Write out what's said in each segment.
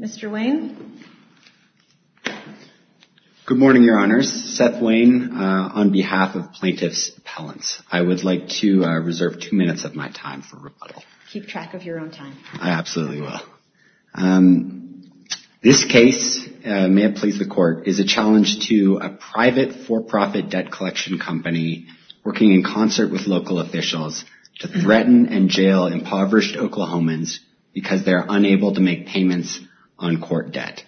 Mr. Wayne? Good morning, Your Honors. Seth Wayne on behalf of Plaintiff's Appellants. I would like to reserve two minutes of my time for rebuttal. Keep track of your own time. I absolutely will. This case, may it please the Court, is a challenge to a private for-profit debt collection company working in concert with local officials to threaten and jail impoverished Oklahomans because they are unable to make payments on court debt.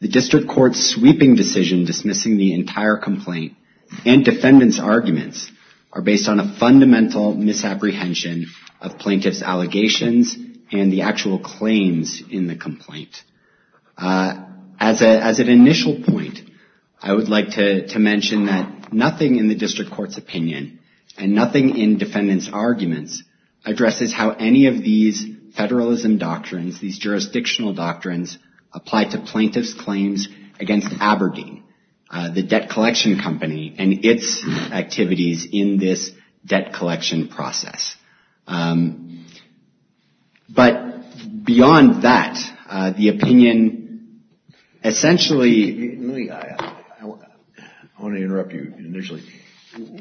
The District Court's sweeping decision dismissing the entire complaint and defendant's arguments are based on a fundamental misapprehension of plaintiff's allegations and the actual claims in the complaint. As an initial point, I would like to mention that nothing in the District Court's opinion and nothing in defendant's arguments addresses how any of these federalism doctrines, these jurisdictional doctrines, apply to plaintiff's claims against Aberdeen, the debt collection company, and its activities in this debt collection process. But beyond that, the opinion essentially I want to interrupt you initially.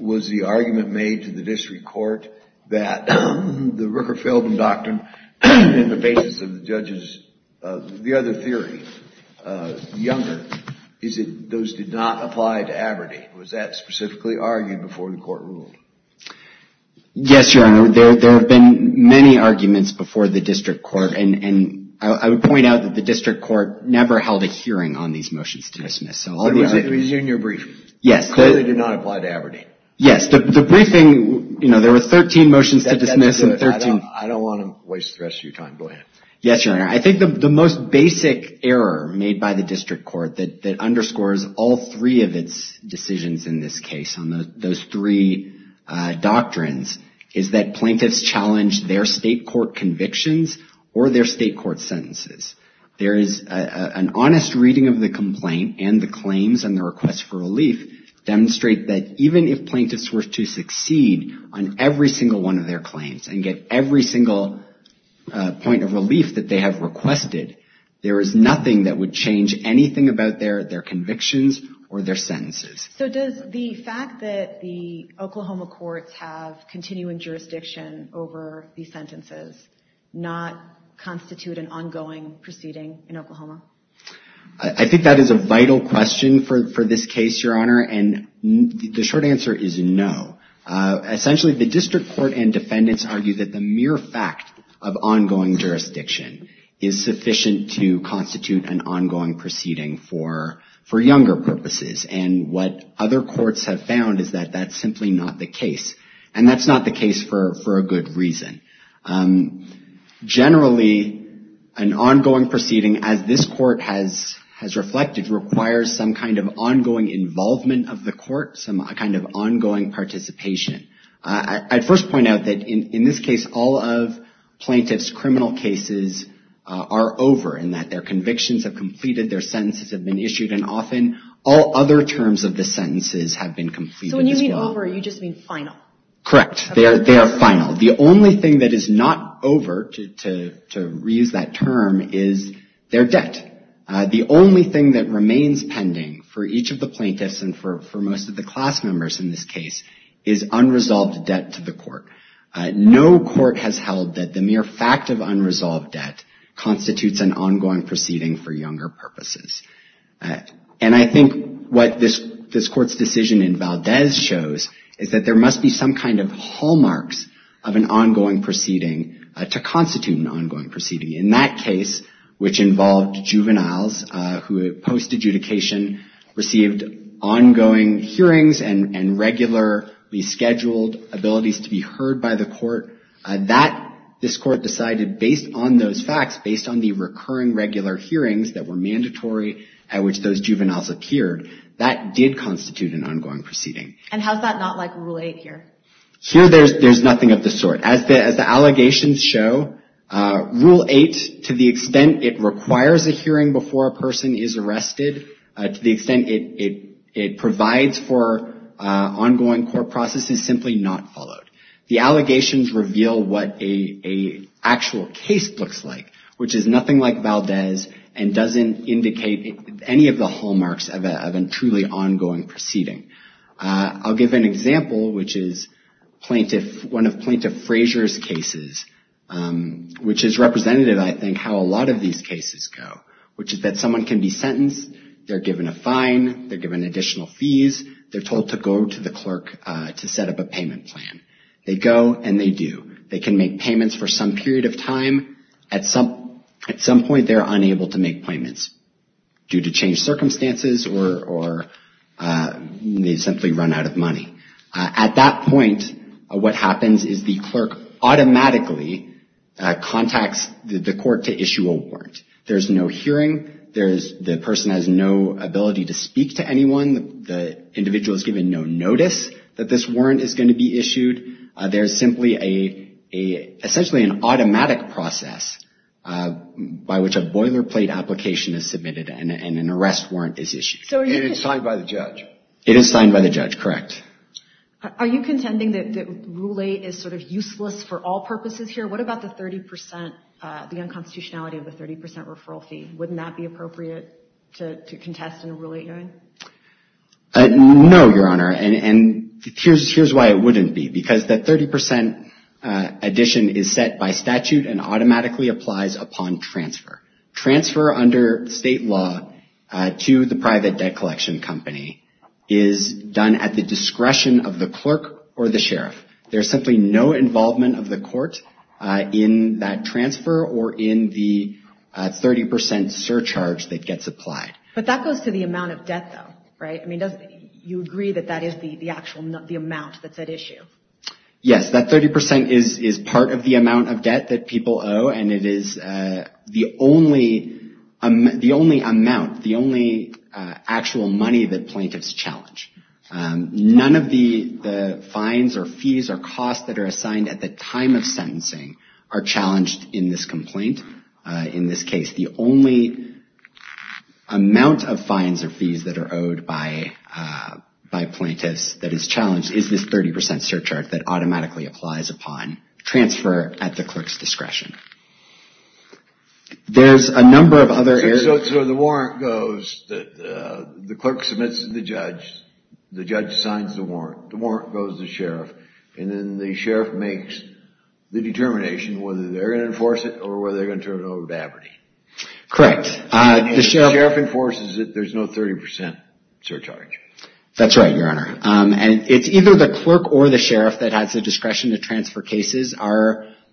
Was the argument made to the District Court that the Ricker-Feldman Doctrine and the basis of the judges, the other theory, Younger, is that those did not apply to Aberdeen? Was that specifically argued before the Court ruled? Yes, Your Honor. There have been many arguments before the District Court, and I would point out that the District Court did not apply to Aberdeen. There were 13 motions to dismiss. I don't want to waste the rest of your time. Go ahead. Yes, Your Honor. I think the most basic error made by the District Court that underscores all three of its decisions in this case on those three doctrines is that plaintiffs challenge their state court convictions or their state court sentences. There is an honest reading of the complaint and the claims and the request for relief demonstrate that even if plaintiffs were to succeed on every single one of their claims and get every single point of relief that they have requested, there is nothing that would change anything about their convictions or their sentences. So does the fact that the Oklahoma courts have continuing jurisdiction over these sentences not constitute an ongoing proceeding in Oklahoma? I think that is a vital question for this case, Your Honor, and the short answer is no. Essentially, the District Court and defendants argue that the mere fact of ongoing jurisdiction is sufficient to constitute an ongoing proceeding for Younger purposes. And what other courts have found is that that's simply not the case. And that's not the case for a good reason. Generally, an ongoing proceeding, as this court has reflected, requires some kind of ongoing involvement of the court, some kind of ongoing participation. I'd first point out that in this case, all of plaintiffs' criminal cases are over in that their convictions have completed, their sentences have been issued, and often all other terms of the sentences have been completed as well. So when you mean over, you just mean final? Correct. They are final. The only thing that is not over, to reuse that term, is their debt. The only thing that remains pending for each of the plaintiffs and for most of the class members in this case is unresolved debt to the court. No court has held that the mere fact of unresolved debt constitutes an ongoing proceeding for Younger purposes. And I think what this court's decision in Valdez shows is that there must be some kind of hallmarks of an ongoing proceeding to constitute an ongoing proceeding. In that case, which involved juveniles who, post-adjudication, received ongoing hearings and regularly scheduled abilities to be heard by the court, this court decided based on those that did constitute an ongoing proceeding. And how is that not like Rule 8 here? Here, there's nothing of the sort. As the allegations show, Rule 8, to the extent it requires a hearing before a person is arrested, to the extent it provides for ongoing court processes, simply not followed. The allegations reveal what an actual case looks like, which is nothing like any of the hallmarks of a truly ongoing proceeding. I'll give an example, which is one of Plaintiff Frazier's cases, which is representative, I think, how a lot of these cases go, which is that someone can be sentenced, they're given a fine, they're given additional fees, they're told to go to the clerk to set up a payment plan. They go and they do. They can make payments for some reason, due to changed circumstances, or they simply run out of money. At that point, what happens is the clerk automatically contacts the court to issue a warrant. There's no hearing. The person has no ability to speak to anyone. The individual is given no notice that this warrant is going to be issued. There's simply, essentially, an automatic process by which a boilerplate application is submitted and an arrest warrant is issued. And it's signed by the judge? It is signed by the judge, correct. Are you contending that Rule 8 is sort of useless for all purposes here? What about the 30 percent, the unconstitutionality of the 30 percent referral fee? Wouldn't that be appropriate to contest in a Rule 8 hearing? No, Your Honor, and here's why it wouldn't be, because that 30 percent addition is set by statute and automatically applies upon transfer. Transfer under state law to the private debt collection company is done at the discretion of the clerk or the sheriff. There's simply no involvement of the court in that transfer or in the 30 percent surcharge that gets applied. But that goes to the amount of debt, though, right? I mean, you agree that that is the actual amount that's at issue? Yes, that 30 percent is part of the amount of debt that people owe, and it is the only amount, the only actual money that plaintiffs challenge. None of the fines or fees or costs that are assigned at the time of sentencing are challenged in this complaint, in this case. The only amount of fines or fees that are owed by plaintiffs that is challenged is this 30 percent surcharge that automatically applies upon transfer at the clerk's discretion. There's a number of other areas... So the warrant goes, the clerk submits to the judge, the judge signs the warrant, the warrant goes to the sheriff, and then the sheriff makes the determination whether they're going to enforce it or whether they're going to turn it over to Aberdeen. Correct. If the sheriff enforces it, there's no 30 percent surcharge. That's right, Your Honor. And it's either the clerk or the sheriff that has the discretion to transfer cases.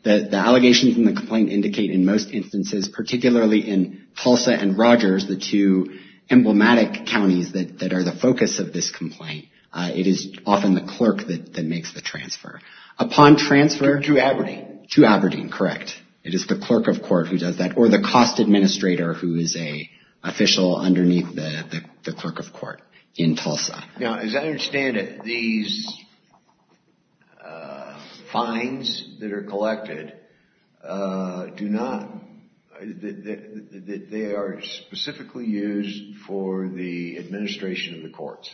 The allegations in the complaint indicate in most instances, particularly in Tulsa and Rogers, the two emblematic counties that are the focus of this complaint. It is often the clerk that makes the transfer. Upon transfer to Aberdeen. To Aberdeen, correct. It is the clerk of court who does that, or the cost administrator who is an official underneath the clerk of court in Tulsa. Now, as I understand it, these fines that are collected do not, they are specifically used for the administration of the courts.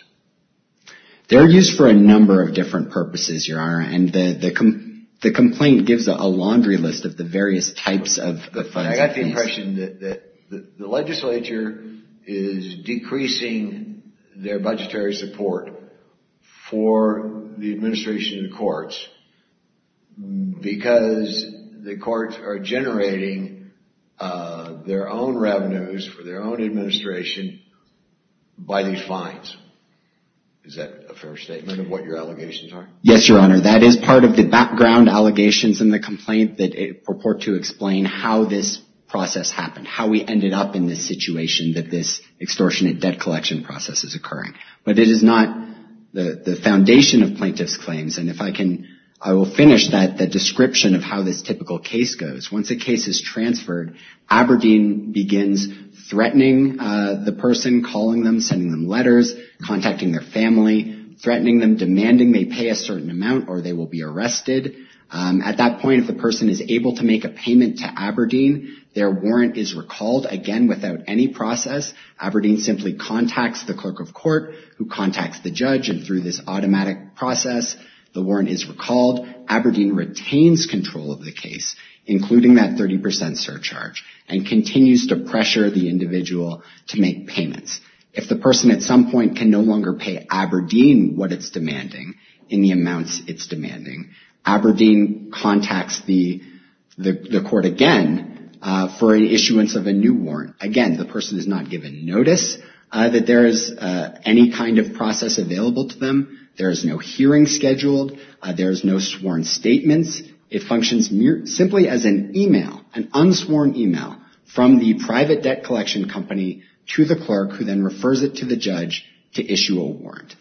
They're used for a number of different purposes, Your Honor, and the complaint gives a laundry list of the various types of the fines. I got the impression that the legislature is decreasing their budgetary support for the administration of the courts because the courts are generating their own revenues for their own administration by these fines. Is that a fair statement of what your allegations are? Yes, Your Honor. That is part of the background allegations in the complaint that purport to explain how this process happened. How we ended up in this situation that this extortionate debt collection process is occurring. But it is not the foundation of plaintiff's claims. And if I can, I will finish that, the description of how this typical case goes. Once a case is transferred, Aberdeen begins threatening the person, calling them, sending them letters, contacting their family, threatening them, demanding they pay a certain amount or they will be arrested. At that point, if the person is able to make a payment to Aberdeen, their warrant is recalled again without any process. Aberdeen simply contacts the clerk of court who contacts the judge. And through this automatic process, the warrant is recalled. Aberdeen retains control of the case, including that 30 percent surcharge, and continues to pressure the individual to make payments. If the person at some point can no longer pay Aberdeen what it's demanding in the amounts it's demanding, Aberdeen contacts the court again for an issuance of a new warrant. Again, the person is not given notice that there is any kind of process available to them. There is no hearing scheduled. There is no sworn statements. It functions simply as an email, an unsworn email from the private debt collection company to the clerk, who then refers it to the judge to issue a warrant.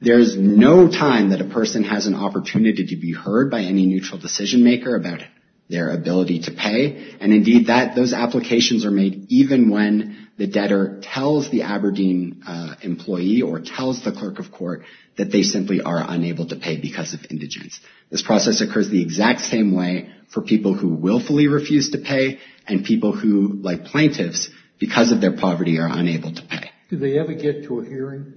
There is no time that a person has an opportunity to be heard by any neutral decision maker about their ability to pay. And indeed, those applications are made even when the debtor tells the Aberdeen employee or tells the clerk of court that they simply are unable to pay because of indigence. This process occurs the exact same way for people who willfully refuse to pay, and people who, like plaintiffs, because of their poverty are unable to pay. Do they ever get to a hearing?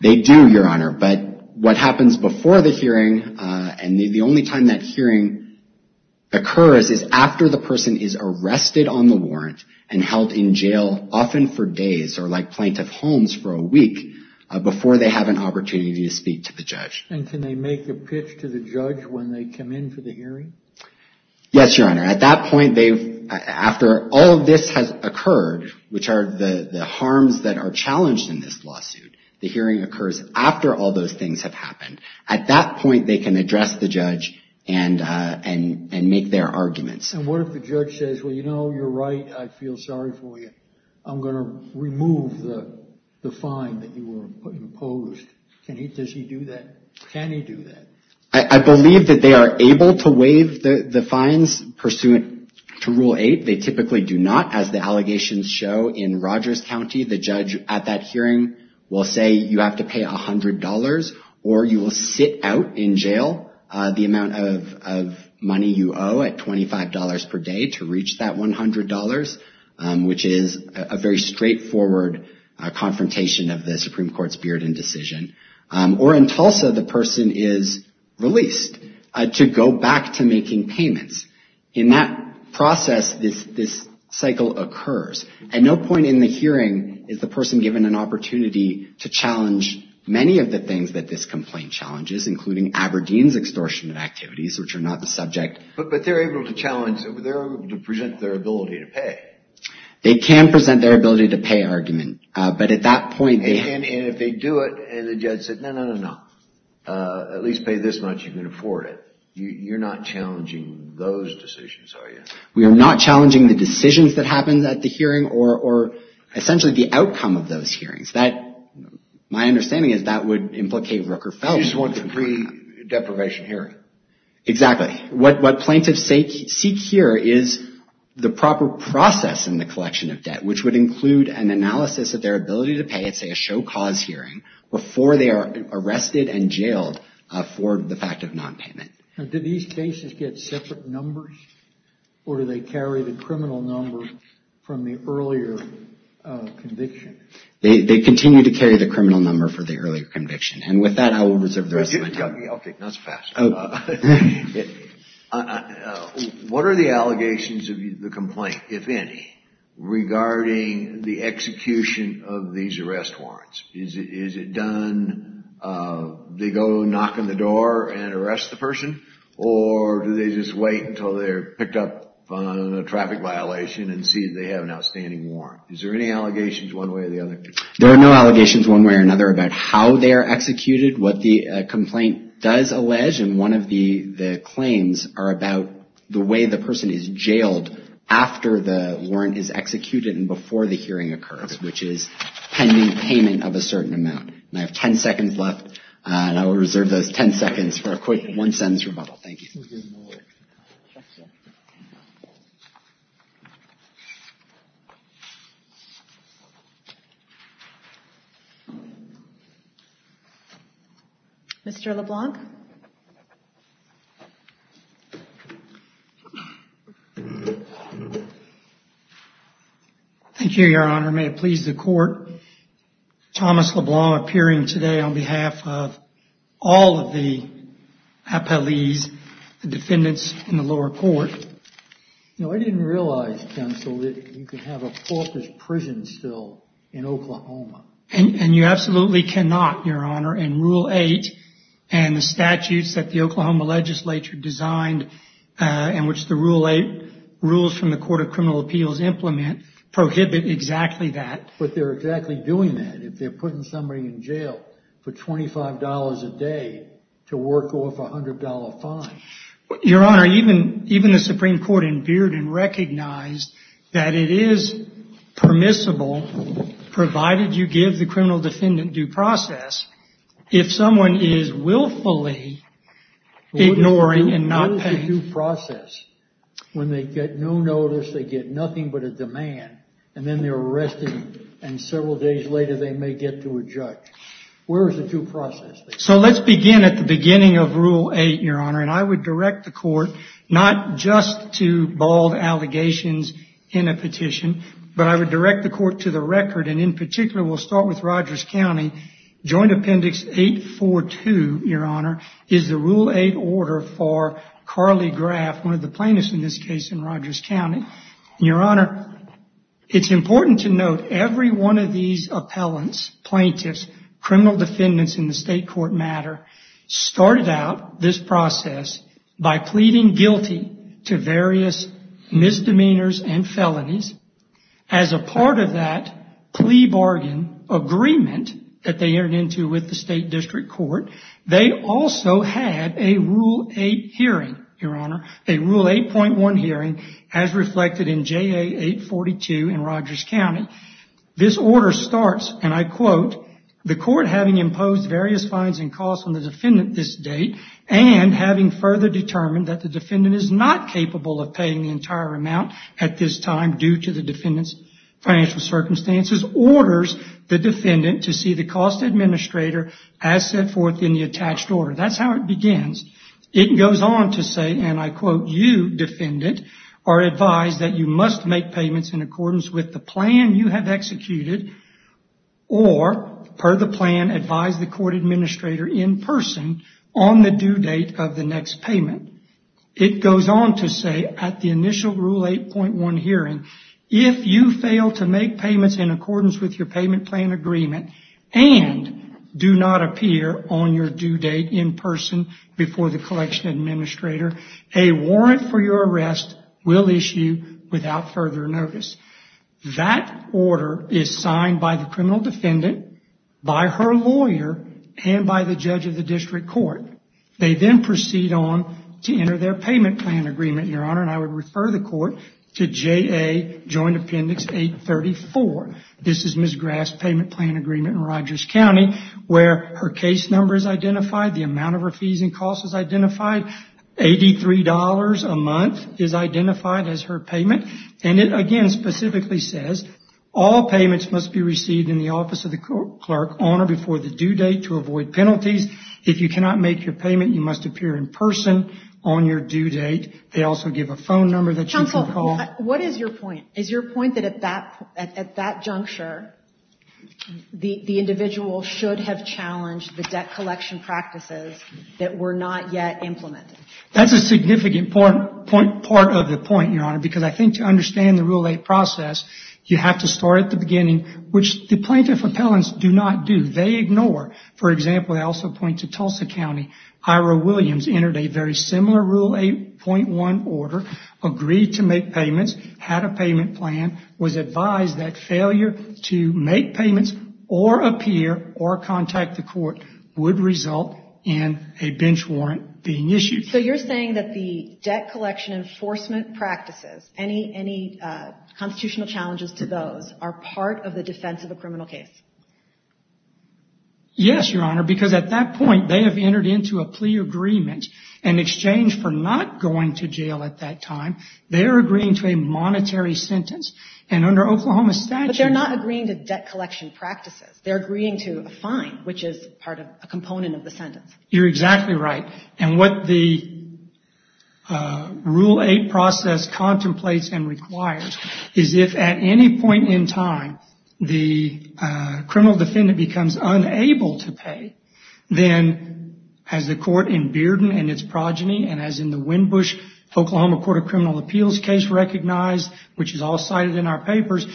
They do, Your Honor. But what happens before the hearing, and the only time that hearing occurs, is after the person is arrested on the warrant and held in jail, often for days, or like plaintiff Holmes for a week, before they have an opportunity to speak to the judge. And can they make a pitch to the judge when they come in for the hearing? Yes, Your Honor. At that point, after all of this has occurred, which are the harms that are challenged in this lawsuit, the hearing occurs after all those things have happened. At that point, they can address the judge and make their arguments. And what if the judge says, well, you know, you're right. I feel sorry for you. I'm going to remove the fine that you were imposed. Does he do that? Can he do that? I believe that they are able to waive the fines pursuant to Rule 8. They typically do not. As the allegations show in Rogers County, the judge at that hearing will say you have to pay $100 or you will sit out in jail the amount of money you owe at $25 per day to reach that $100, which is a very straightforward confrontation of the Supreme Court's Bearden decision. Or in Tulsa, the person is released to go back to making payments. In that process, this cycle occurs. At no point in the hearing is the person given an opportunity to challenge many of the things that this complaint challenges, including Aberdeen's extortion activities, which are not the subject. But they're able to challenge. They're able to present their ability to pay. They can present their ability to pay argument. But at that point, they have to. And if they do it and the judge says, no, no, no, no, at least pay this much, you can afford it. You're not challenging those decisions, are you? We are not challenging the decisions that happen at the hearing or essentially the outcome of those hearings. My understanding is that would implicate Rooker-Feldman. You just want the pre-deprivation hearing. Exactly. What plaintiffs seek here is the proper process in the collection of debt, which would include an analysis of their ability to pay at, say, a show-cause hearing, before they are arrested and jailed for the fact of nonpayment. Now, do these cases get separate numbers? Or do they carry the criminal number from the earlier conviction? They continue to carry the criminal number for the earlier conviction. And with that, I will reserve the rest of my time. What are the allegations of the complaint, if any, regarding the execution of these arrest warrants? Is it done, they go knock on the door and arrest the person? Or do they just wait until they're picked up on a traffic violation and see if they have an outstanding warrant? Is there any allegations one way or the other? There are no allegations one way or another about how they are executed, what the complaint does allege, and one of the claims are about the way the person is jailed after the warrant is executed and before the hearing occurs, which is pending payment of a certain amount. And I have 10 seconds left, and I will reserve those 10 seconds for a quick one-sentence rebuttal. Thank you. Mr. LeBlanc? Thank you, Your Honor. May it please the Court, Thomas LeBlanc appearing today on behalf of all of the appellees, the defendants in the lower court. Now, I didn't realize, counsel, that you could have a porpoise prison still in Oklahoma. And you absolutely cannot, Your Honor. And Rule 8 and the statutes that the Oklahoma legislature designed and which the Rule 8 rules from the Court of Criminal Appeals implement prohibit exactly that. But they're exactly doing that. If they're putting somebody in jail for $25 a day to work off a $100 fine. Your Honor, even the Supreme Court in Bearden recognized that it is permissible, provided you give the criminal defendant due process, if someone is willfully ignoring and not paying. What is the due process? When they get no notice, they get nothing but a demand, and then they're arrested, and several days later they may get to a judge. Where is the due process? So let's begin at the beginning of Rule 8, Your Honor. And I would direct the Court not just to bald allegations in a petition, but I would direct the Court to the record. And in particular, we'll start with Rogers County. Joint Appendix 842, Your Honor, is the Rule 8 order for Carly Graff, one of the plaintiffs in this case in Rogers County. Your Honor, it's important to note every one of these appellants, plaintiffs, criminal defendants in the state court matter, started out this process by pleading guilty to various misdemeanors and felonies. As a part of that plea bargain agreement that they entered into with the state district court, they also had a Rule 8 hearing, Your Honor, a Rule 8.1 hearing, as reflected in JA 842 in Rogers County. This order starts, and I quote, the court having imposed various fines and costs on the defendant this date and having further determined that the defendant is not capable of paying the entire amount at this time due to the defendant's financial circumstances, orders the defendant to see the cost administrator as set forth in the attached order. That's how it begins. It goes on to say, and I quote, you, defendant, are advised that you must make payments in accordance with the plan you have executed or, per the plan, advise the court administrator in person on the due date of the next payment. It goes on to say at the initial Rule 8.1 hearing, if you fail to make payments in accordance with your payment plan agreement and do not appear on your due date in person before the collection administrator, a warrant for your arrest will issue without further notice. That order is signed by the criminal defendant, by her lawyer, and by the judge of the district court. They then proceed on to enter their payment plan agreement, Your Honor, and I would refer the court to JA Joint Appendix 834. This is Ms. Graff's payment plan agreement in Rogers County where her case number is identified, the amount of her fees and costs is identified, $83 a month is identified as her payment. And it, again, specifically says, all payments must be received in the office of the clerk on or before the due date to avoid penalties. If you cannot make your payment, you must appear in person on your due date. They also give a phone number that you can call. Counsel, what is your point? Is your point that at that juncture, the individual should have challenged the debt collection practices that were not yet implemented? That's a significant part of the point, Your Honor, because I think to understand the Rule 8 process, you have to start at the beginning, which the plaintiff appellants do not do. They ignore. For example, I also point to Tulsa County. Ira Williams entered a very similar Rule 8.1 order, agreed to make payments, had a payment plan, was advised that failure to make payments or appear or contact the court would result in a bench warrant being issued. So you're saying that the debt collection enforcement practices, any constitutional challenges to those are part of the defense of a criminal case? Yes, Your Honor, because at that point, they have entered into a plea agreement in exchange for not going to jail at that time. They're agreeing to a monetary sentence. And under Oklahoma statute- But they're not agreeing to debt collection practices. They're agreeing to a fine, which is part of a component of the sentence. You're exactly right. And what the Rule 8 process contemplates and requires is if at any point in time, the criminal defendant becomes unable to pay, then as the court in Bearden and its progeny and as in the Windbush-Oklahoma Court of Criminal Appeals case recognized, which is all cited in our papers,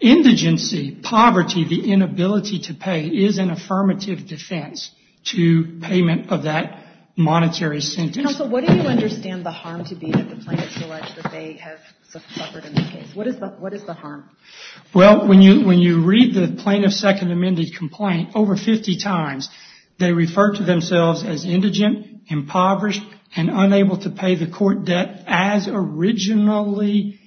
indigency, poverty, the inability to pay, is an affirmative defense to payment of that monetary sentence. Counsel, what do you understand the harm to be that the plaintiff's alleged that they have suffered in this case? What is the harm? Well, when you read the plaintiff's second amended complaint over 50 times, they refer to themselves as indigent, impoverished, and unable to pay the court debt as originally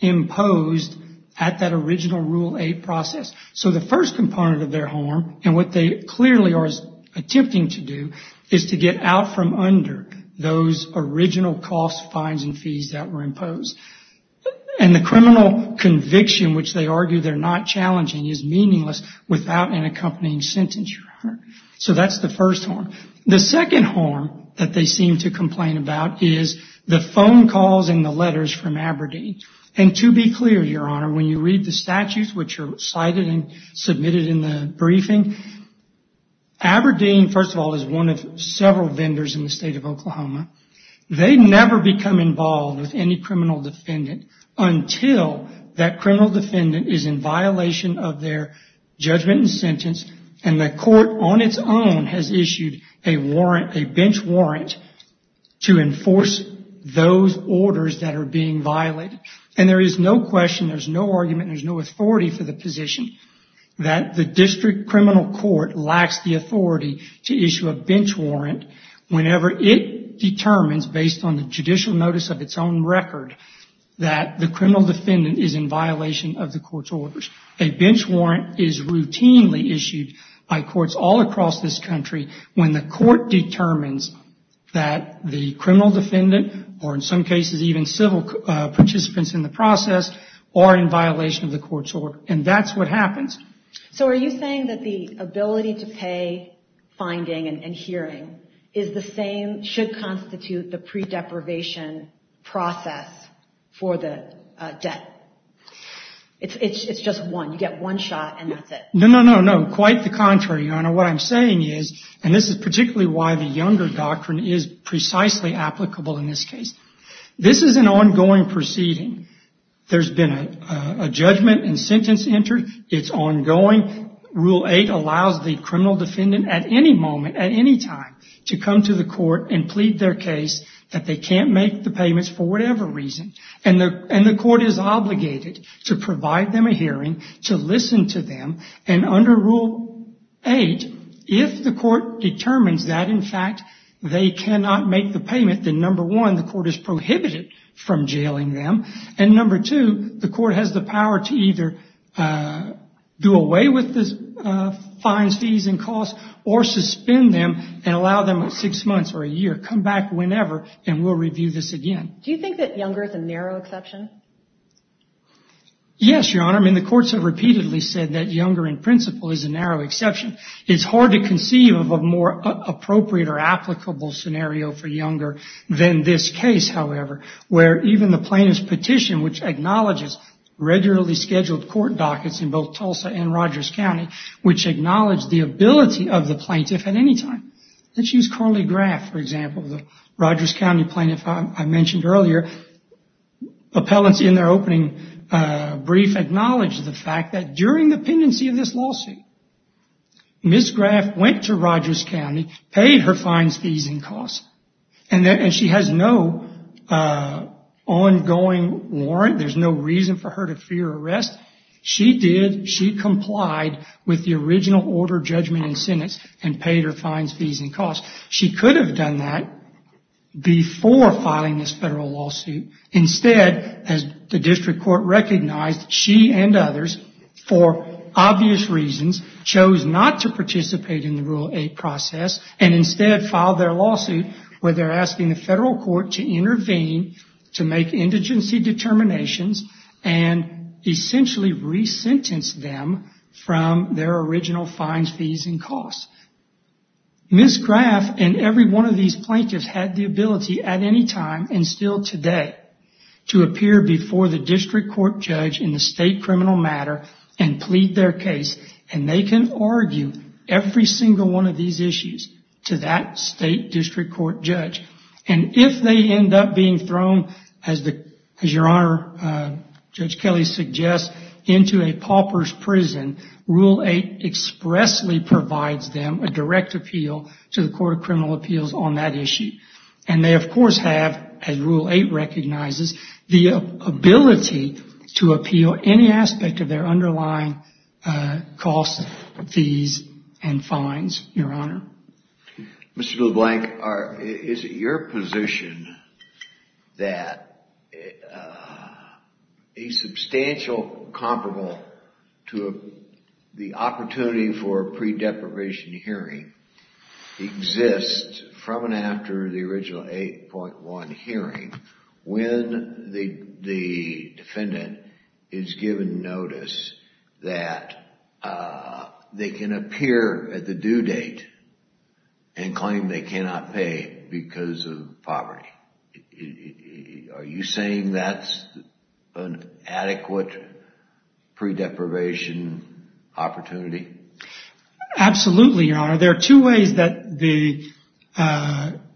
imposed at that original Rule 8 process. So the first component of their harm, and what they clearly are attempting to do, is to get out from under those original costs, fines, and fees that were imposed. And the criminal conviction, which they argue they're not challenging, is meaningless without an accompanying sentence. So that's the first harm. The second harm that they seem to complain about is the phone calls and the letters from Aberdeen. And to be clear, Your Honor, when you read the statutes, which are cited and submitted in the briefing, Aberdeen, first of all, is one of several vendors in the state of Oklahoma. They never become involved with any criminal defendant until that criminal defendant is in violation of their judgment and sentence and the court on its own has issued a warrant, a bench warrant, to enforce those orders that are being violated. And there is no question, there's no argument, there's no authority for the position that the district criminal court lacks the authority to issue a bench warrant whenever it determines, based on the judicial notice of its own record, a bench warrant is routinely issued by courts all across this country when the court determines that the criminal defendant, or in some cases even civil participants in the process, are in violation of the court's order. And that's what happens. So are you saying that the ability to pay finding and hearing is the same, should constitute the pre-deprivation process for the debt? It's just one. You get one shot and that's it. No, no, no, no. Quite the contrary, Your Honor. What I'm saying is, and this is particularly why the Younger Doctrine is precisely applicable in this case, this is an ongoing proceeding. There's been a judgment and sentence entered. It's ongoing. Rule 8 allows the criminal defendant at any moment, at any time, to come to the court and plead their case that they can't make the payments for whatever reason. And the court is obligated to provide them a hearing, to listen to them. And under Rule 8, if the court determines that, in fact, they cannot make the payment, then, number one, the court is prohibited from jailing them. And number two, the court has the power to either do away with the fines, fees, and costs, or suspend them and allow them six months or a year, come back whenever, and we'll review this again. Do you think that Younger is a narrow exception? Yes, Your Honor. I mean, the courts have repeatedly said that Younger, in principle, is a narrow exception. It's hard to conceive of a more appropriate or applicable scenario for Younger than this case, however, where even the plaintiff's petition, which acknowledges regularly scheduled court dockets in both Tulsa and Rogers County, which acknowledge the ability of the plaintiff at any time. Let's use Carly Graff, for example, the Rogers County plaintiff I mentioned earlier. Appellants, in their opening brief, acknowledged the fact that during the pendency of this lawsuit, Ms. Graff went to Rogers County, paid her fines, fees, and costs, and she has no ongoing warrant. There's no reason for her to fear arrest. She did. She complied with the original order, judgment, and sentence, and paid her fines, fees, and costs. She could have done that before filing this federal lawsuit. Instead, as the district court recognized, she and others, for obvious reasons, chose not to participate in the Rule 8 process, and instead filed their lawsuit where they're asking the federal court to intervene, to make indigency determinations, and essentially re-sentence them from their original fines, fees, and costs. Ms. Graff and every one of these plaintiffs had the ability at any time, and still today, to appear before the district court judge in the state criminal matter and plead their case, and they can argue every single one of these issues to that state district court judge. And if they end up being thrown, as your Honor, Judge Kelly suggests, into a pauper's prison, Rule 8 expressly provides them a direct appeal to the court of criminal appeals on that issue. And they, of course, have, as Rule 8 recognizes, the ability to appeal any aspect of their underlying costs, fees, and fines, your Honor. Mr. LeBlanc, is it your position that a substantial comparable to the opportunity for a pre-deprivation hearing exists from and after the original 8.1 hearing when the defendant is given notice that they can appear at the court and not pay because of poverty? Are you saying that's an adequate pre-deprivation opportunity? Absolutely, your Honor. There are two ways that the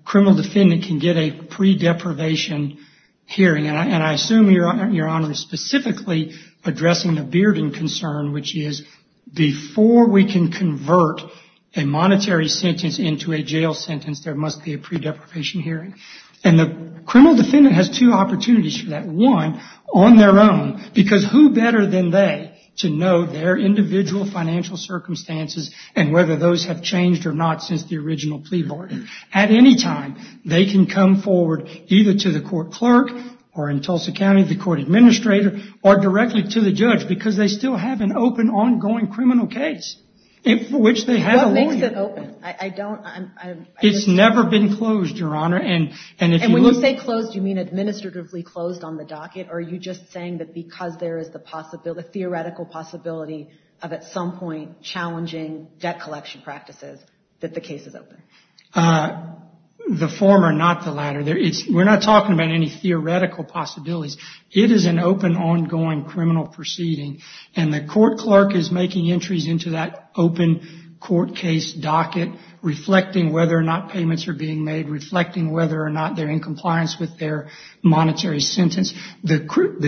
criminal defendant can get a pre-deprivation hearing, and I assume, your Honor, specifically addressing the Bearden concern, which is before we can convert a monetary sentence into a jail sentence, there must be a pre-deprivation hearing. And the criminal defendant has two opportunities for that. One, on their own, because who better than they to know their individual financial circumstances and whether those have changed or not since the original plea bargain. At any time, they can come forward either to the court clerk or, in Tulsa County, the court administrator, or directly to the judge because they still have an open, ongoing criminal case for which they have a lawyer. What makes it open? It's never been closed, your Honor. And when you say closed, you mean administratively closed on the docket, or are you just saying that because there is a theoretical possibility of, at some point, challenging debt collection practices, that the case is open? The former, not the latter. We're not talking about any theoretical possibilities. It is an open, ongoing criminal proceeding, and the court clerk is making entries into that open court case docket, reflecting whether or not payments are being made, reflecting whether or not they're in compliance with their monetary sentence. The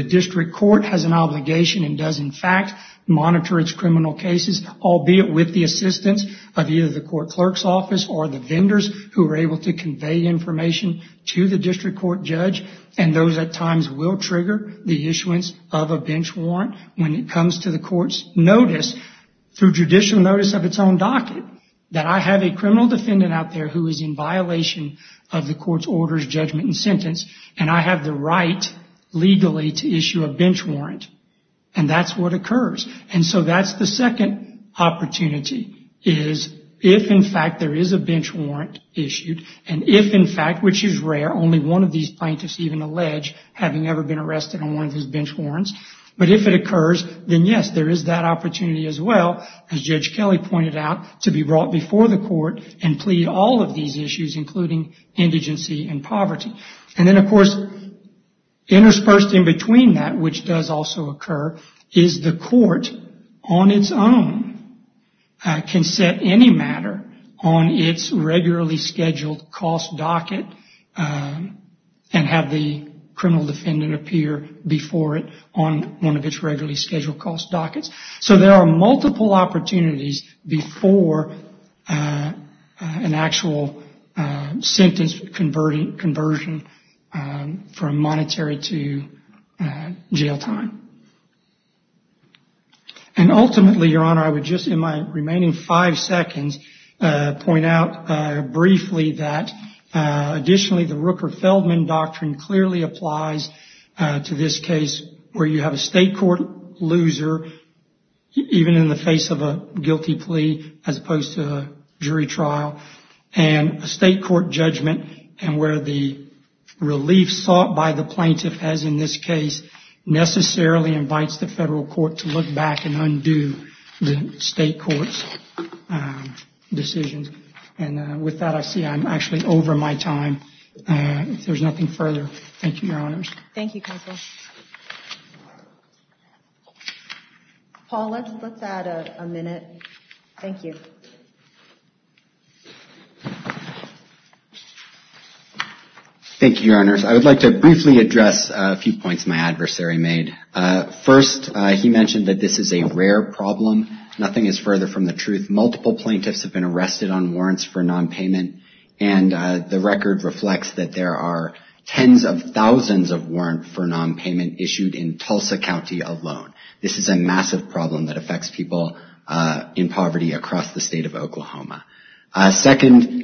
district court has an obligation and does, in fact, monitor its criminal cases, albeit with the assistance of either the court clerk's office or the vendors who are able to convey information to the district court judge, and those, at times, will trigger the issuance of a bench warrant when it comes to the court's notice, through judicial notice of its own docket, that I have a criminal defendant out there who is in violation of the court's orders, judgment, and sentence, and I have the right, legally, to issue a bench warrant. And that's what occurs. And so that's the second opportunity, is if, in fact, there is a bench warrant issued, and if, in fact, which is rare, only one of these plaintiffs even allege having ever been arrested on one of his bench warrants, but if it occurs, then, yes, there is that opportunity as well, as Judge Kelly pointed out, to be brought before the court and plead all of these issues, including indigency and poverty. And then, of course, interspersed in between that, which does also occur, is the court, on its own, can set any matter on its regularly scheduled cost docket, and have the criminal defendant appear before it on one of its regularly scheduled cost dockets. So there are multiple opportunities before an actual sentence conversion from monetary to jail time. And ultimately, Your Honor, I would just, in my remaining five seconds, point out briefly that, additionally, the Rooker-Feldman doctrine clearly applies to this case where you have a state court loser, even in the face of a guilty plea, as opposed to a jury trial, and a state court judgment, and where the relief sought by the plaintiff has, in this case, necessarily invites the federal court to look back and undo the state court's decisions. And with that, I see I'm actually over my time. If there's nothing further, thank you, Your Honors. Thank you, Counsel. Paul, let's add a minute. Thank you. Thank you, Your Honors. I would like to briefly address a few points my adversary made. First, he mentioned that this is a rare problem. Nothing is further from the truth. Multiple plaintiffs have been arrested on warrants for nonpayment, and the record reflects that there are tens of thousands of warrants for nonpayment issued in Tulsa County alone. This is a massive problem that affects people in poverty across the state of Oklahoma. Second,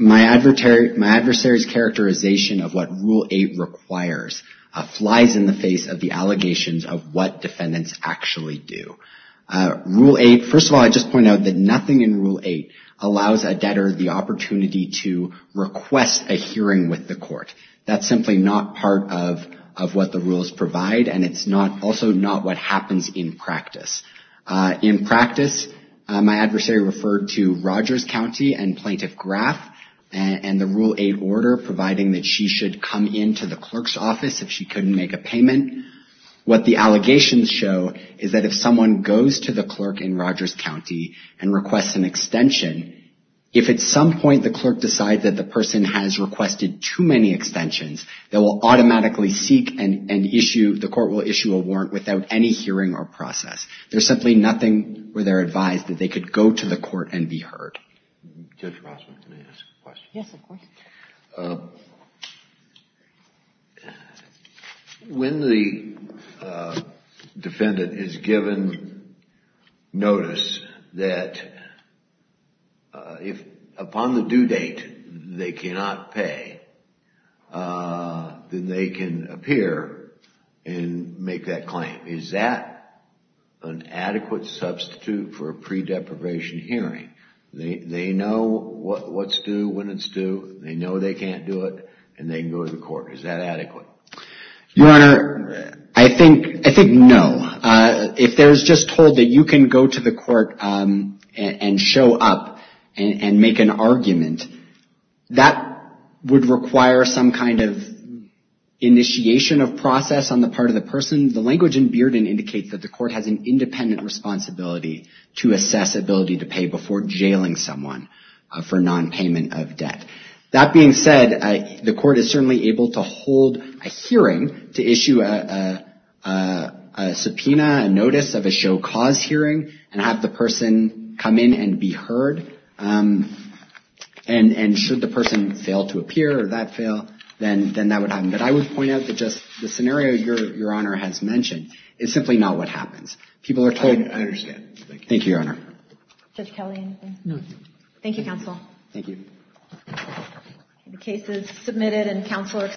my adversary's characterization of what Rule 8 requires flies in the allegations of what defendants actually do. Rule 8, first of all, I just point out that nothing in Rule 8 allows a debtor the opportunity to request a hearing with the court. That's simply not part of what the rules provide, and it's also not what happens in practice. In practice, my adversary referred to Rogers County and Plaintiff Graff, and the Rule 8 order, providing that she should come into the clerk's office if she couldn't make a hearing. What the allegations show is that if someone goes to the clerk in Rogers County and requests an extension, if at some point the clerk decides that the person has requested too many extensions, they will automatically seek and issue, the court will issue a warrant without any hearing or process. There's simply nothing where they're advised that they could go to the court and be heard. Judge Rossman, can I ask a question? Yes, of course. When the defendant is given notice that upon the due date, they cannot pay, then they can appear and make that claim. Is that an adequate substitute for a pre-deprivation hearing? They know what's due, when it's due, they know they can't do it, and they can go to the court. Is that adequate? Your Honor, I think no. If they're just told that you can go to the court and show up and make an argument, that would require some kind of initiation of process on the part of the person. The language in Bearden indicates that the court has an independent responsibility to assess ability to pay before jailing someone for nonpayment of debt. That being said, the court is certainly able to hold a hearing to issue a subpoena, a notice of a show cause hearing, and have the person come in and be heard. And should the person fail to appear or that fail, then that would happen. But I would point out that just the scenario Your Honor has mentioned is simply not what happens. I understand. Thank you, Your Honor. Judge Kelly, anything? No. Thank you, Counsel. Thank you. The case is submitted and Counselor.